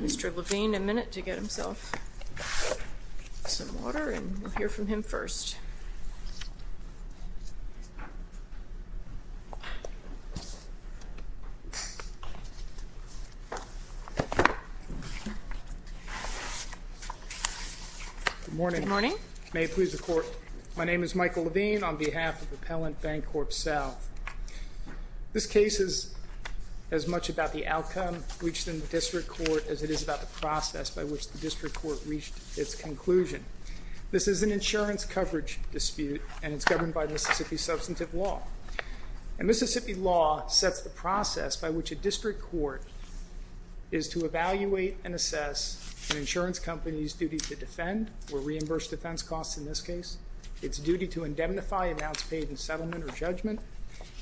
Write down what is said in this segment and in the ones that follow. Mr. Levine, a minute to get himself some water and we'll hear from him first. Good morning. May it please the Court. My name is Michael Levine on behalf of Appellant BancorpSouth. This case is as much about the outcome reached in the District Court as it is about the process by which the District Court reached its conclusion. This is an insurance coverage dispute and it's governed by Mississippi substantive law. And Mississippi law sets the process by which a District Court is to evaluate and assess an insurance company's duty to defend, or reimburse defense costs in this case, its duty to indemnify amounts paid in settlement or judgment,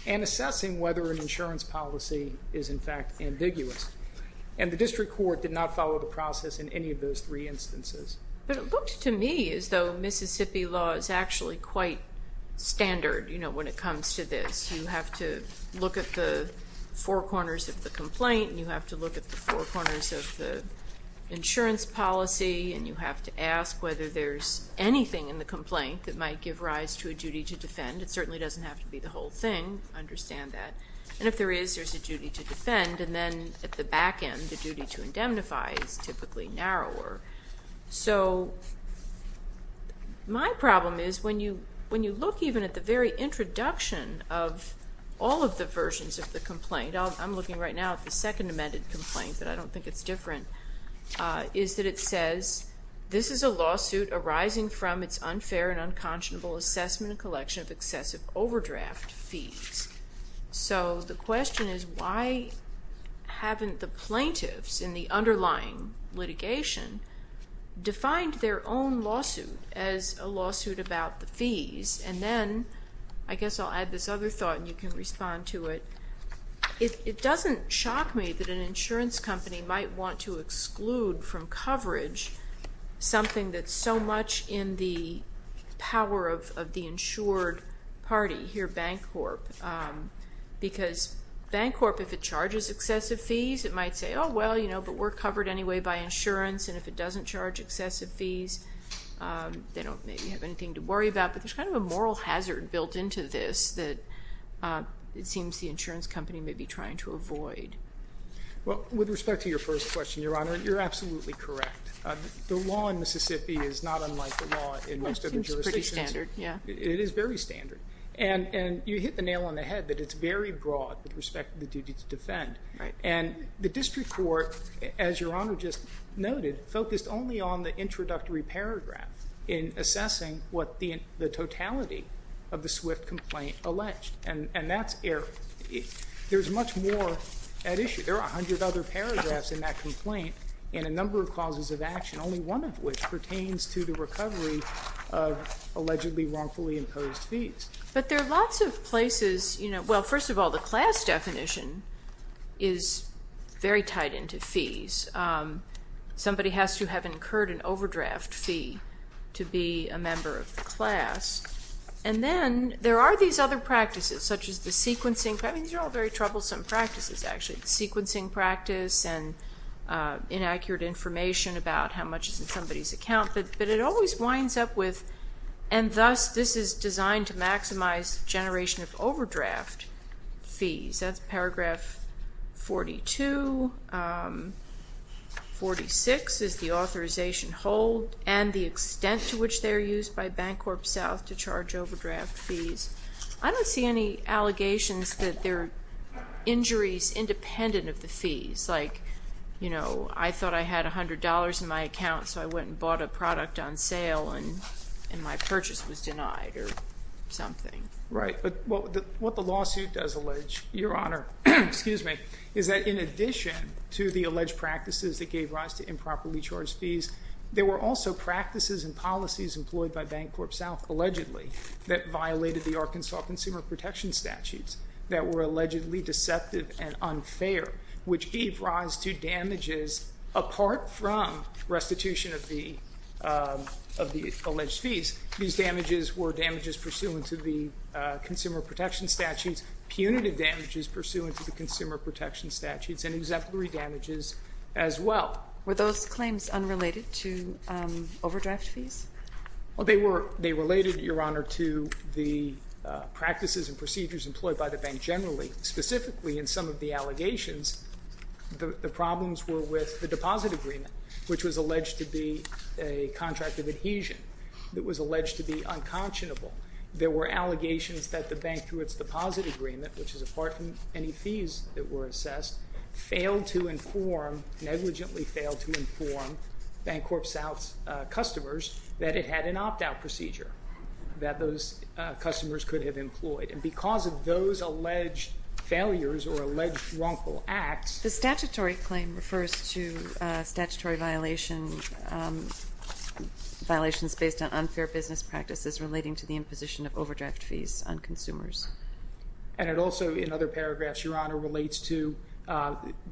and assessing whether an insurance policy is in fact ambiguous. And the District Court did not follow the process in any of those three instances. But it looked to me as though Mississippi law is actually quite standard, you know, when it comes to this. You have to look at the four corners of the complaint and you have to look at the four corners of the insurance policy and you have to ask whether there's anything in the complaint that might give rise to a duty to defend. It certainly doesn't have to be the whole thing. I understand that. And if there is, there's a duty to defend and then at the back end, the duty to indemnify is typically narrower. So my problem is when you look even at the very introduction of all of the versions of the complaint, I'm looking right now at the second amended complaint, but I don't think it's different, is that it says this is a lawsuit arising from its unfair and unconscionable assessment and collection of excessive overdraft fees. So the question is why haven't the plaintiffs in the underlying litigation defined their own lawsuit as a lawsuit about the fees? And then I guess I'll add this other thought and you can respond to it. It doesn't shock me that an insurance company might want to exclude from coverage something that's so much in the power of the insured party, hear Bancorp, because Bancorp, if it charges excessive fees, it might say, oh, well, you know, but we're covered anyway by insurance and if it doesn't charge excessive fees, they don't have anything to worry about. But there's kind of a moral hazard built into this that it seems the insurance company may be trying to avoid. Well, with respect to your first question, Your Honor, you're absolutely correct. The law in Mississippi is not unlike the law in most other jurisdictions. It's standard, yeah. It is very standard. And you hit the nail on the head that it's very broad with respect to the duty to defend. And the district court, as Your Honor just noted, focused only on the introductory paragraph in assessing what the totality of the Swift complaint alleged. And that's error. There's much more at issue. There are 100 other paragraphs in that complaint and a number of causes of action, only one of which pertains to the recovery of allegedly wrongfully imposed fees. But there are lots of places, you know, well, first of all, the class definition is very tied into fees. Somebody has to have incurred an overdraft fee to be a member of the class. And then there are these other practices, such as the sequencing. I mean, these are all very troublesome practices, actually, sequencing practice and inaccurate information about how much is in somebody's account. But it always winds up with, and thus this is designed to maximize generation of overdraft fees. That's paragraph 42. 46 is the authorization hold and the extent to which they are used by Bancorp South to charge overdraft fees. I don't see any allegations that they're injuries independent of the fees. Like, you know, I thought I had $100 in my account, so I went and bought a product on sale and my purchase was denied or something. Right, but what the lawsuit does allege, Your Honor, excuse me, is that in addition to the alleged practices that gave rise to improperly charged fees, there were also practices and policies employed by Bancorp South, allegedly, that violated the Arkansas Consumer Protection Statutes that were allegedly deceptive and unfair, which gave rise to damages apart from restitution of the alleged fees. These damages were damages pursuant to the Consumer Protection Statutes, punitive damages pursuant to the Consumer Protection Statutes, and exemplary damages as well. Were those claims unrelated to overdraft fees? Well, they were. They related, Your Honor, to the practices and procedures employed by the bank generally. Specifically, in some of the allegations, the problems were with the deposit agreement, which was alleged to be a contract of adhesion. It was alleged to be unconscionable. There were allegations that the bank, through its deposit agreement, which is apart from any fees that were assessed, failed to inform, negligently failed to inform, Bancorp South's customers that it had an opt-out procedure that those customers could have employed. And because of those alleged failures or alleged wrongful acts. The statutory claim refers to statutory violations based on unfair business practices relating to the imposition of overdraft fees on consumers. And it also, in other paragraphs, Your Honor, relates to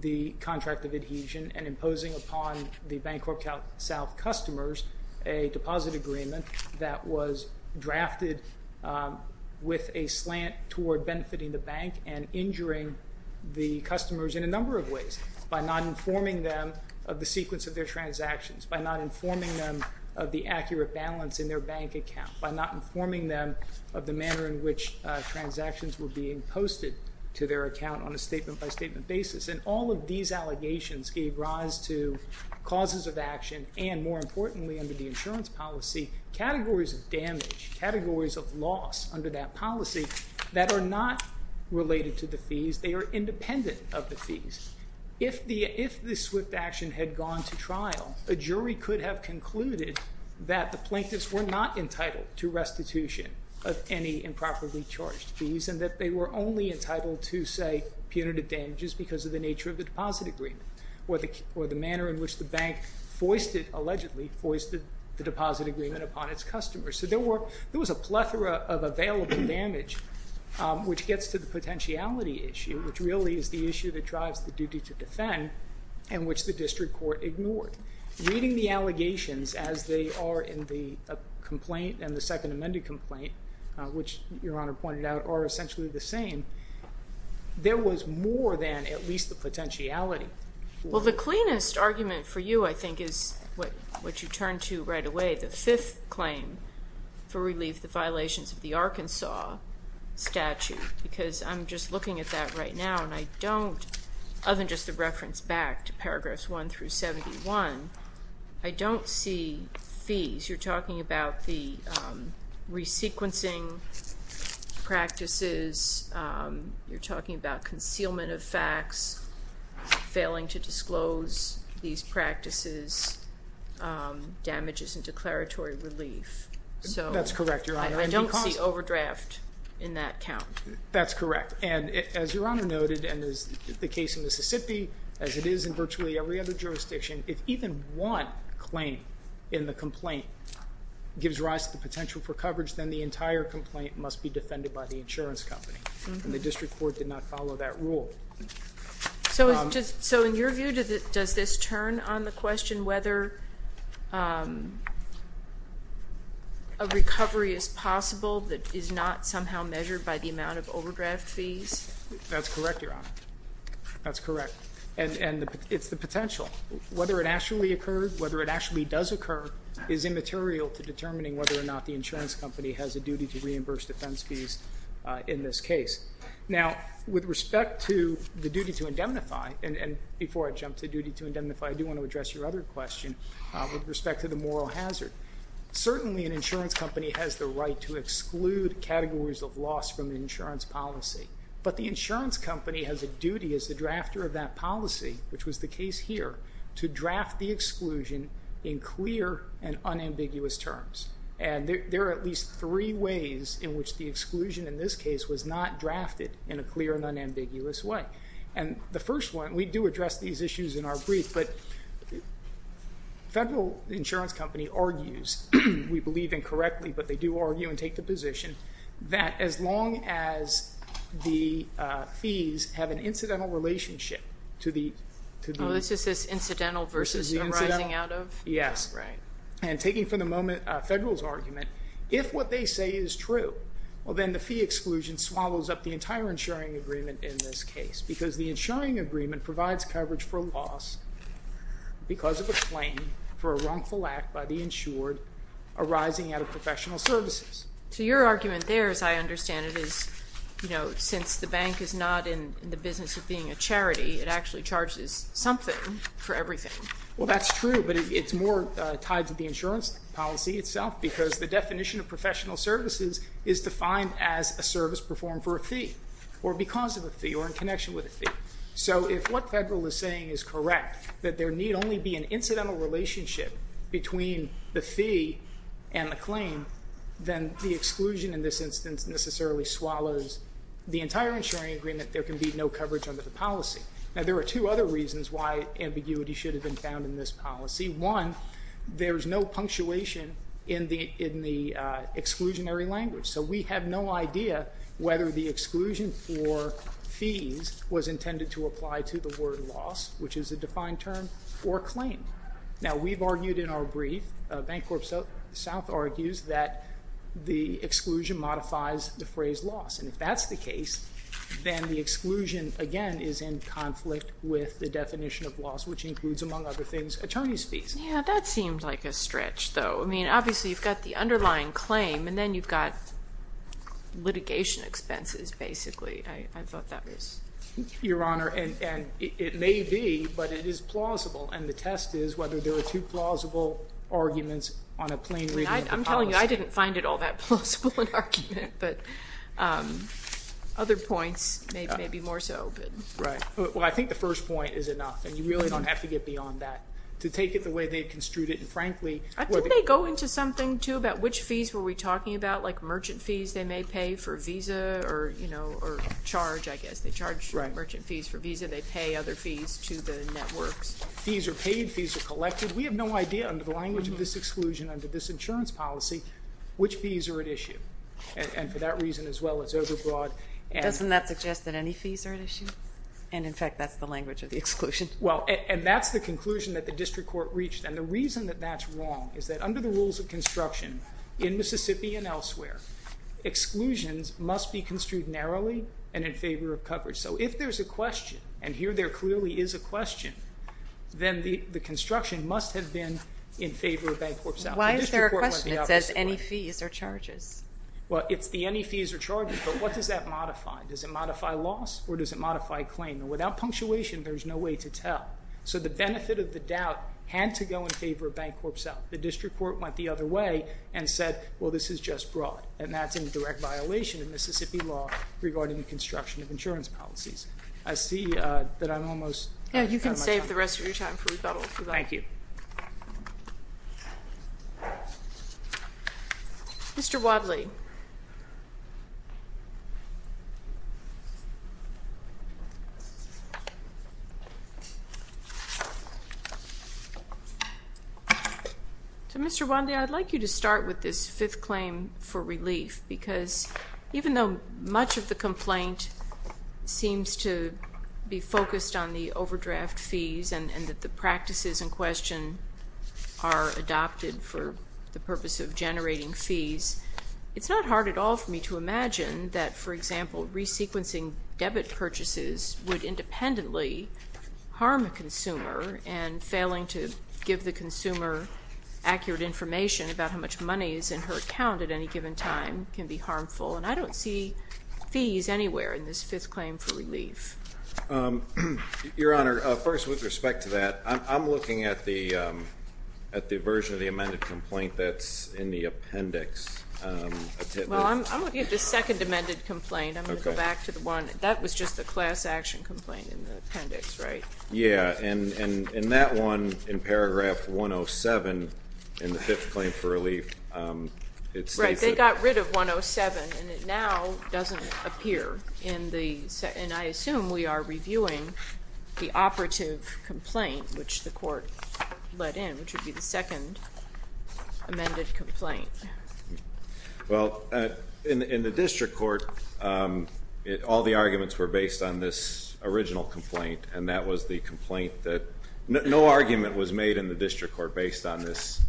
the contract of adhesion and imposing upon the Bancorp South customers a deposit agreement that was drafted with a slant toward benefiting the bank and injuring the customers in a number of ways, by not informing them of the sequence of their transactions, by not informing them of the accurate balance in their bank account, by not informing them of the manner in which transactions were being posted to their account on a statement-by-statement basis. And all of these allegations gave rise to causes of action, and more importantly under the insurance policy, categories of damage, they are independent of the fees. If this swift action had gone to trial, a jury could have concluded that the plaintiffs were not entitled to restitution of any improperly charged fees and that they were only entitled to, say, punitive damages because of the nature of the deposit agreement or the manner in which the bank foisted, allegedly foisted, the deposit agreement upon its customers. So there was a plethora of available damage, which gets to the potentiality issue, which really is the issue that drives the duty to defend and which the district court ignored. Reading the allegations as they are in the complaint and the second amended complaint, which Your Honor pointed out are essentially the same, there was more than at least the potentiality. Well, the cleanest argument for you, I think, is what you turn to right away, the fifth claim for relief, the violations of the Arkansas statute, because I'm just looking at that right now and I don't, other than just the reference back to paragraphs 1 through 71, I don't see fees. You're talking about the resequencing practices. You're talking about concealment of facts, failing to disclose these practices, damages and declaratory relief. That's correct, Your Honor. I don't see overdraft in that count. That's correct. And as Your Honor noted and as the case in Mississippi, as it is in virtually every other jurisdiction, if even one claim in the complaint gives rise to the potential for coverage, then the entire complaint must be defended by the insurance company. And the district court did not follow that rule. So in your view, does this turn on the question whether a recovery is possible that is not somehow measured by the amount of overdraft fees? That's correct, Your Honor. That's correct. And it's the potential. Whether it actually occurred, whether it actually does occur, is immaterial to determining whether or not the insurance company has a duty to reimburse defense fees in this case. Now, with respect to the duty to indemnify, and before I jump to duty to indemnify, I do want to address your other question with respect to the moral hazard. Certainly an insurance company has the right to exclude categories of loss from the insurance policy. But the insurance company has a duty as the drafter of that policy, which was the case here, to draft the exclusion in clear and unambiguous terms. And there are at least three ways in which the exclusion in this case was not drafted in a clear and unambiguous way. And the first one, and we do address these issues in our brief, but the federal insurance company argues, we believe incorrectly, but they do argue and take the position that as long as the fees have an incidental relationship to the... Oh, this just says incidental versus arising out of? Yes. Right. And taking for the moment a federal's argument, if what they say is true, well, then the fee exclusion swallows up the entire insuring agreement in this case because the insuring agreement provides coverage for loss because of a claim for a wrongful act by the insured arising out of professional services. So your argument there, as I understand it, is, you know, since the bank is not in the business of being a charity, it actually charges something for everything. Well, that's true, but it's more tied to the insurance policy itself because the definition of professional services is defined as a service performed for a fee or because of a fee or in connection with a fee. So if what federal is saying is correct, that there need only be an incidental relationship between the fee and the claim, then the exclusion in this instance necessarily swallows the entire insuring agreement. There can be no coverage under the policy. Now, there are two other reasons why ambiguity should have been found in this policy. One, there is no punctuation in the exclusionary language, so we have no idea whether the exclusion for fees was intended to apply to the word loss, which is a defined term, or claim. Now, we've argued in our brief, Bank Corp South argues that the exclusion modifies the phrase loss, and if that's the case, then the exclusion, again, is in conflict with the definition of loss, which includes, among other things, attorney's fees. Yeah, that seems like a stretch, though. I mean, obviously you've got the underlying claim, and then you've got litigation expenses basically. I thought that was... Your Honor, and it may be, but it is plausible, and the test is whether there are two plausible arguments on a plain reading of the policy. I'm telling you, I didn't find it all that plausible an argument, but other points may be more so. Right. Well, I think the first point is enough, and you really don't have to get beyond that. To take it the way they construed it, and frankly... I think they go into something, too, about which fees were we talking about, like merchant fees they may pay for a visa or charge, I guess. They charge merchant fees for a visa. They pay other fees to the networks. Fees are paid. Fees are collected. We have no idea, under the language of this exclusion, under this insurance policy, which fees are at issue, and for that reason as well as overbroad. Doesn't that suggest that any fees are at issue? And, in fact, that's the language of the exclusion. Well, and that's the conclusion that the district court reached, and the reason that that's wrong is that under the rules of construction, in Mississippi and elsewhere, exclusions must be construed narrowly and in favor of coverage. So if there's a question, and here there clearly is a question, then the construction must have been in favor of Bancorp South. Why is there a question that says any fees or charges? Well, it's the any fees or charges, but what does that modify? Does it modify loss or does it modify claim? Without punctuation, there's no way to tell. So the benefit of the doubt had to go in favor of Bancorp South. The district court went the other way and said, well, this is just broad, and that's in direct violation of Mississippi law regarding the construction of insurance policies. I see that I'm almost out of my time. Yeah, you can save the rest of your time for rebuttal. Thank you. Mr. Wadley. So, Mr. Wadley, I'd like you to start with this fifth claim for relief, because even though much of the complaint seems to be focused on the overdraft fees and that the practices in question are adopted for the purpose of generating fees, it's not hard at all for me to imagine that, for example, re-sequencing debit purchases would independently harm a consumer and failing to give the consumer accurate information about how much money is in her account at any given time can be harmful, and I don't see fees anywhere in this fifth claim for relief. Your Honor, first, with respect to that, I'm looking at the version of the amended complaint that's in the appendix. Well, I'm looking at the second amended complaint. I'm going to go back to the one. That was just the class action complaint in the appendix, right? Yeah, and that one in paragraph 107 in the fifth claim for relief, it states that. Right, they got rid of 107, and it now doesn't appear in the, and I assume we are reviewing the operative complaint, which the court let in, which would be the second amended complaint. Well, in the district court, all the arguments were based on this original complaint, and that was the complaint that no argument was made in the district court based on this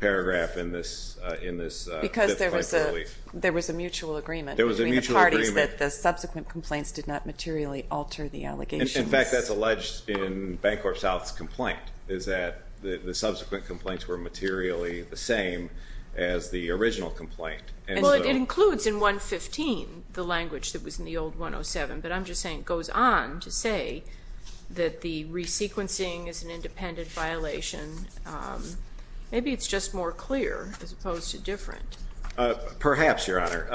paragraph in this fifth claim for relief. Because there was a mutual agreement. There was a mutual agreement. The parties that the subsequent complaints did not materially alter the allegations. In fact, that's alleged in Bancorp South's complaint, is that the subsequent complaints were materially the same as the original complaint. Well, it includes in 115 the language that was in the old 107, but I'm just saying it goes on to say that the resequencing is an independent violation. Maybe it's just more clear as opposed to different. Perhaps, Your Honor.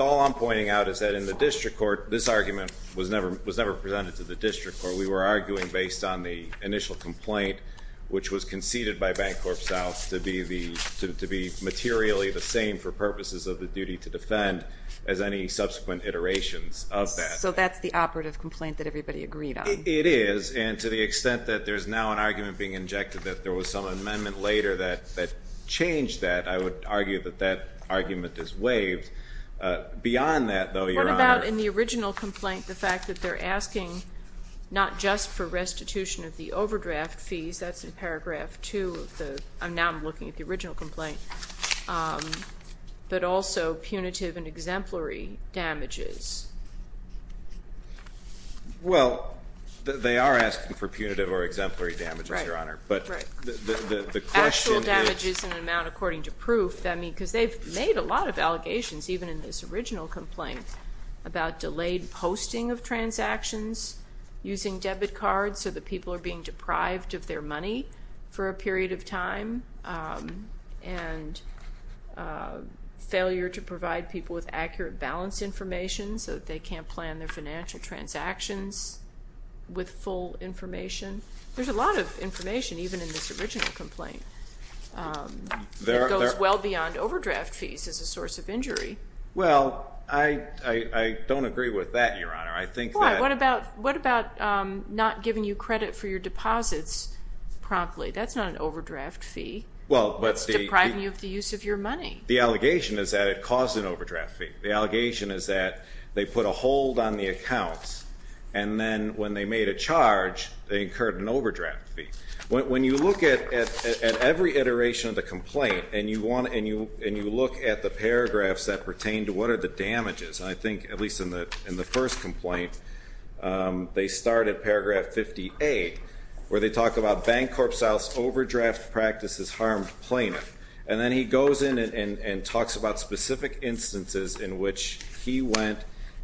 All I'm pointing out is that in the district court, this argument was never presented to the district court. We were arguing based on the initial complaint, which was conceded by Bancorp South, to be materially the same for purposes of the duty to defend as any subsequent iterations of that. So that's the operative complaint that everybody agreed on. It is, and to the extent that there's now an argument being injected that there was some amendment later that changed that, I would argue that that argument is waived. Beyond that, though, Your Honor. What about in the original complaint the fact that they're asking not just for restitution of the overdraft fees, that's in paragraph 2 of the, now I'm looking at the original complaint, but also punitive and exemplary damages? Well, they are asking for punitive or exemplary damages, Your Honor. Right, right. Actual damages in an amount according to proof. I mean, because they've made a lot of allegations, even in this original complaint, about delayed posting of transactions using debit cards so that people are being deprived of their money for a period of time, and failure to provide people with accurate balance information so that they can't plan their financial transactions with full information. There's a lot of information, even in this original complaint. It goes well beyond overdraft fees as a source of injury. Well, I don't agree with that, Your Honor. Why? What about not giving you credit for your deposits promptly? That's not an overdraft fee. It's depriving you of the use of your money. The allegation is that it caused an overdraft fee. The allegation is that they put a hold on the accounts, and then when they made a charge, they incurred an overdraft fee. When you look at every iteration of the complaint and you look at the paragraphs that pertain to what are the damages, I think, at least in the first complaint, they start at paragraph 58, where they talk about bank corp sales overdraft practices harmed plaintiff. And then he goes in and talks about specific instances in which he went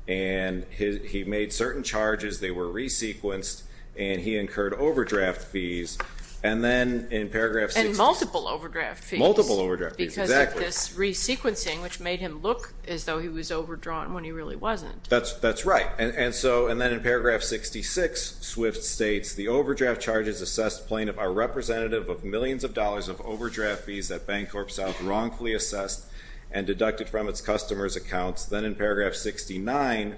and he made certain charges. They were re-sequenced, and he incurred overdraft fees. And then in paragraph 66. And multiple overdraft fees. Multiple overdraft fees, exactly. Because of this re-sequencing, which made him look as though he was overdrawn when he really wasn't. That's right. And then in paragraph 66, Swift states, the overdraft charges assessed plaintiff are representative of millions of dollars of overdraft fees that Bank Corp South wrongfully assessed and deducted from its customers' accounts. Then in paragraph 69,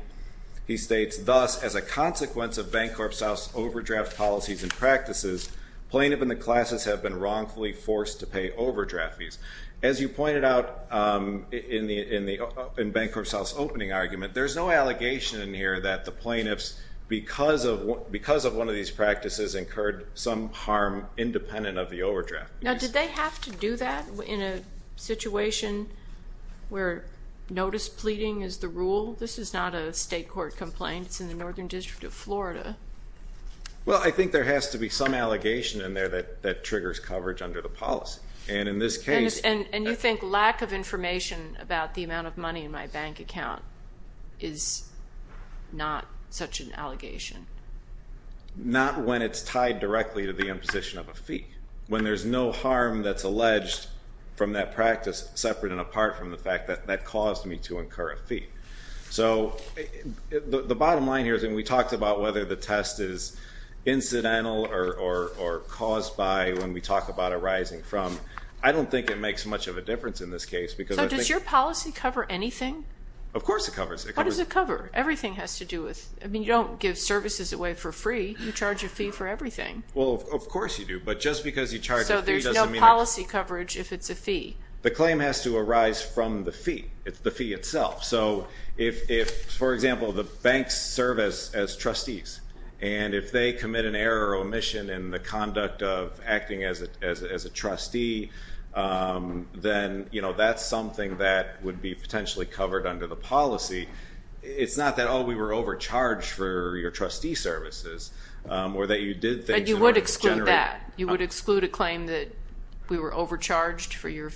he states, thus, as a consequence of Bank Corp South's overdraft policies and practices, plaintiff and the classes have been wrongfully forced to pay overdraft fees. As you pointed out in Bank Corp South's opening argument, there's no allegation in here that the plaintiffs, because of one of these practices, incurred some harm independent of the overdraft fees. Now, did they have to do that in a situation where notice pleading is the rule? This is not a state court complaint. It's in the Northern District of Florida. Well, I think there has to be some allegation in there that triggers coverage under the policy. And you think lack of information about the amount of money in my bank account is not such an allegation? Not when it's tied directly to the imposition of a fee, when there's no harm that's alleged from that practice separate and apart from the fact that that caused me to incur a fee. So the bottom line here is when we talked about whether the test is incidental or caused by when we talk about arising from, I don't think it makes much of a difference in this case. So does your policy cover anything? Of course it covers. What does it cover? Everything has to do with, I mean, you don't give services away for free. You charge a fee for everything. Well, of course you do. But just because you charge a fee doesn't mean it's... So there's no policy coverage if it's a fee? The claim has to arise from the fee. It's the fee itself. So if, for example, the banks serve as trustees, and if they commit an error or omission in the conduct of acting as a trustee, then that's something that would be potentially covered under the policy. It's not that, oh, we were overcharged for your trustee services or that you did things in order to generate... But you would exclude that? You would exclude a claim that we were overcharged for your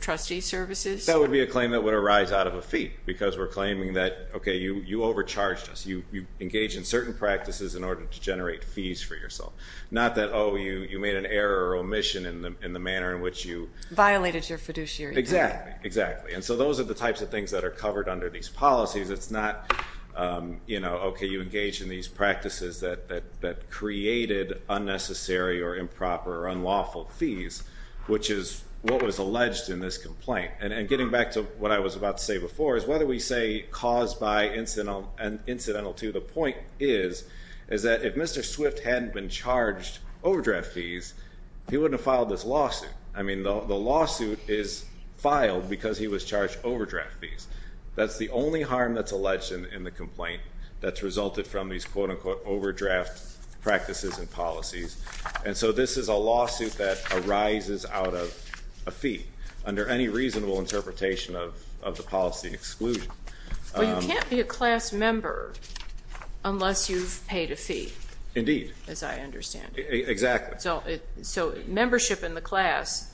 trustee services? That would be a claim that would arise out of a fee because we're claiming that, okay, you overcharged us. You engaged in certain practices in order to generate fees for yourself. Not that, oh, you made an error or omission in the manner in which you... Violated your fiduciary duty. Exactly, exactly. And so those are the types of things that are covered under these policies. It's not, you know, okay, you engaged in these practices that created unnecessary or improper or unlawful fees, which is what was alleged in this complaint. And getting back to what I was about to say before is whether we say caused by and incidental to, the point is that if Mr. Swift hadn't been charged overdraft fees, he wouldn't have filed this lawsuit. I mean, the lawsuit is filed because he was charged overdraft fees. That's the only harm that's alleged in the complaint that's resulted from these, quote-unquote, overdraft practices and policies. And so this is a lawsuit that arises out of a fee under any reasonable interpretation of the policy exclusion. Well, you can't be a class member unless you've paid a fee. Indeed. As I understand it. Exactly. So membership in the class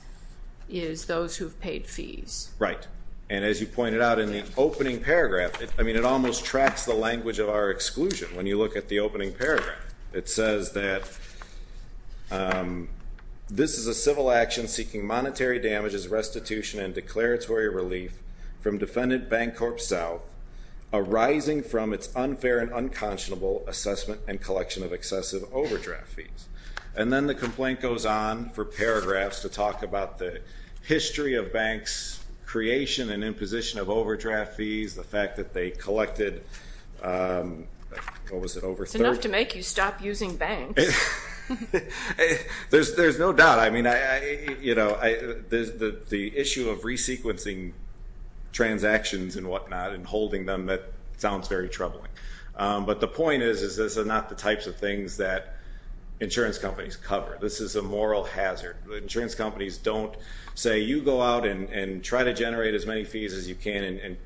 is those who've paid fees. Right. And as you pointed out in the opening paragraph, I mean, it almost tracks the language of our exclusion. When you look at the opening paragraph, it says that this is a civil action seeking monetary damages, restitution, and declaratory relief from defendant Bank Corp South arising from its unfair and unconscionable assessment and collection of excessive overdraft fees. And then the complaint goes on for paragraphs to talk about the history of banks' creation and imposition of overdraft fees, the fact that they collected, what was it, over 30? It's enough to make you stop using banks. There's no doubt. I mean, you know, the issue of resequencing transactions and whatnot and holding them, that sounds very troubling. But the point is this is not the types of things that insurance companies cover. This is a moral hazard. Insurance companies don't say, you go out and try to generate as many fees as you can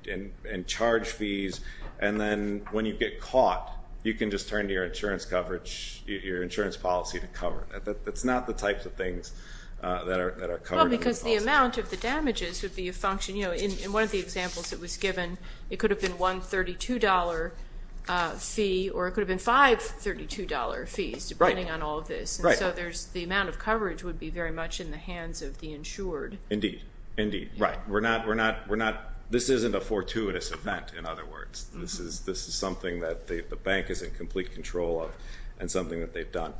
and charge fees, and then when you get caught, you can just turn to your insurance coverage, your insurance policy to cover it. That's not the types of things that are covered. Well, because the amount of the damages would be a function, you know, in one of the examples that was given, it could have been one $32 fee or it could have been five $32 fees depending on all of this. Right. So the amount of coverage would be very much in the hands of the insured. Indeed. Indeed. Right. We're not, this isn't a fortuitous event, in other words. This is something that the bank is in complete control of and something that they've done.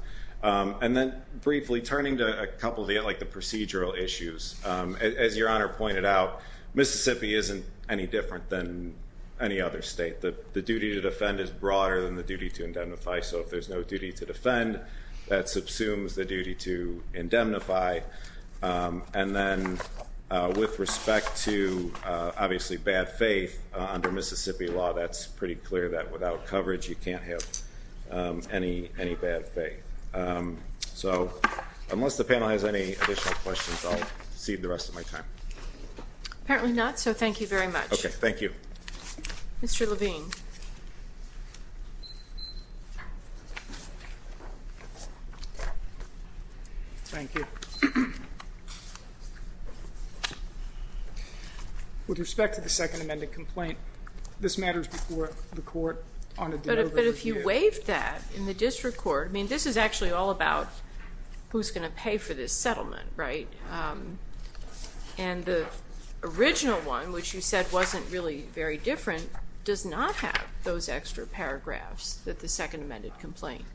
And then briefly, turning to a couple of the procedural issues, as Your Honor pointed out, Mississippi isn't any different than any other state. The duty to defend is broader than the duty to indemnify. So if there's no duty to defend, that subsumes the duty to indemnify. And then with respect to, obviously, bad faith under Mississippi law, that's pretty clear that without coverage you can't have any bad faith. So unless the panel has any additional questions, I'll cede the rest of my time. Apparently not, so thank you very much. Okay. Thank you. Mr. Levine. Thank you. With respect to the second amended complaint, this matters before the court on a delivery review. But if you waived that in the district court, I mean, this is actually all about who's going to pay for this settlement, right? And the original one, which you said wasn't really very different, does not have those extra paragraphs that the second amended complaint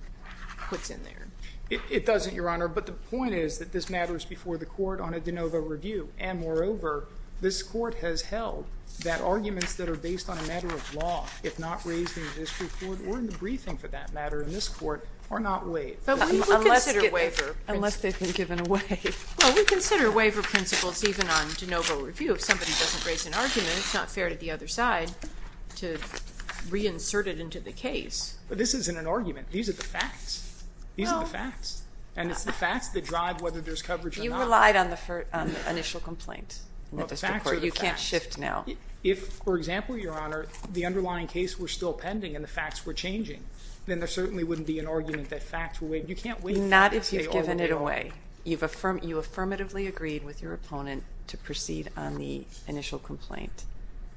puts in there. It doesn't, Your Honor. But the point is that this matters before the court on a de novo review. And moreover, this court has held that arguments that are based on a matter of law, if not raised in the district court or in the briefing for that matter in this court, are not waived. Unless they've been given a waiver. Well, we consider waiver principles even on de novo review. If somebody doesn't raise an argument, it's not fair to the other side to reinsert it into the case. But this isn't an argument. These are the facts. These are the facts. And it's the facts that drive whether there's coverage or not. You relied on the initial complaint in the district court. Well, the facts are the facts. You can't shift now. If, for example, Your Honor, the underlying case were still pending and the facts were changing, then there certainly wouldn't be an argument that facts were waived. Not if you've given it away. You affirmatively agreed with your opponent to proceed on the initial complaint.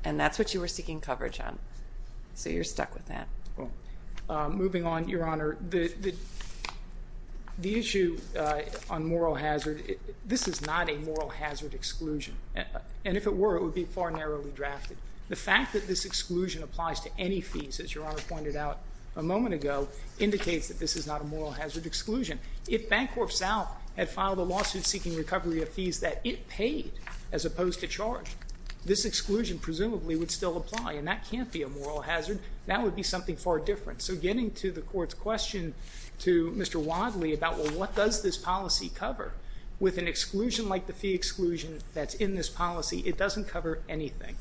And that's what you were seeking coverage on. So you're stuck with that. Moving on, Your Honor, the issue on moral hazard, this is not a moral hazard exclusion. And if it were, it would be far narrowly drafted. The fact that this exclusion applies to any fees, as Your Honor pointed out a moment ago, indicates that this is not a moral hazard exclusion. If Bancorp South had filed a lawsuit seeking recovery of fees that it paid as opposed to charge, this exclusion presumably would still apply. And that can't be a moral hazard. That would be something far different. So getting to the Court's question to Mr. Wadley about, well, what does this policy cover? With an exclusion like the fee exclusion that's in this policy, it doesn't cover anything.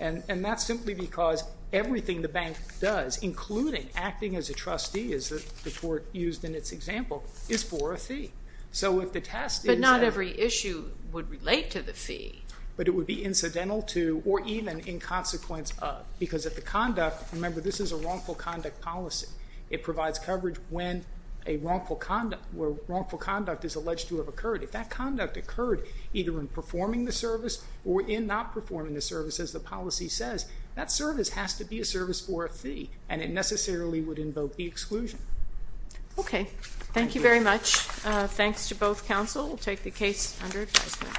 And that's simply because everything the bank does, including acting as a trustee, as the Court used in its example, is for a fee. So if the test is that. But not every issue would relate to the fee. But it would be incidental to or even in consequence of. Because if the conduct, remember this is a wrongful conduct policy. It provides coverage when a wrongful conduct, where wrongful conduct is alleged to have occurred. If that conduct occurred either in performing the service or in not performing the service, as the policy says, that service has to be a service for a fee. And it necessarily would invoke the exclusion. Okay. Thank you very much. Thanks to both counsel. We'll take the case under advisement.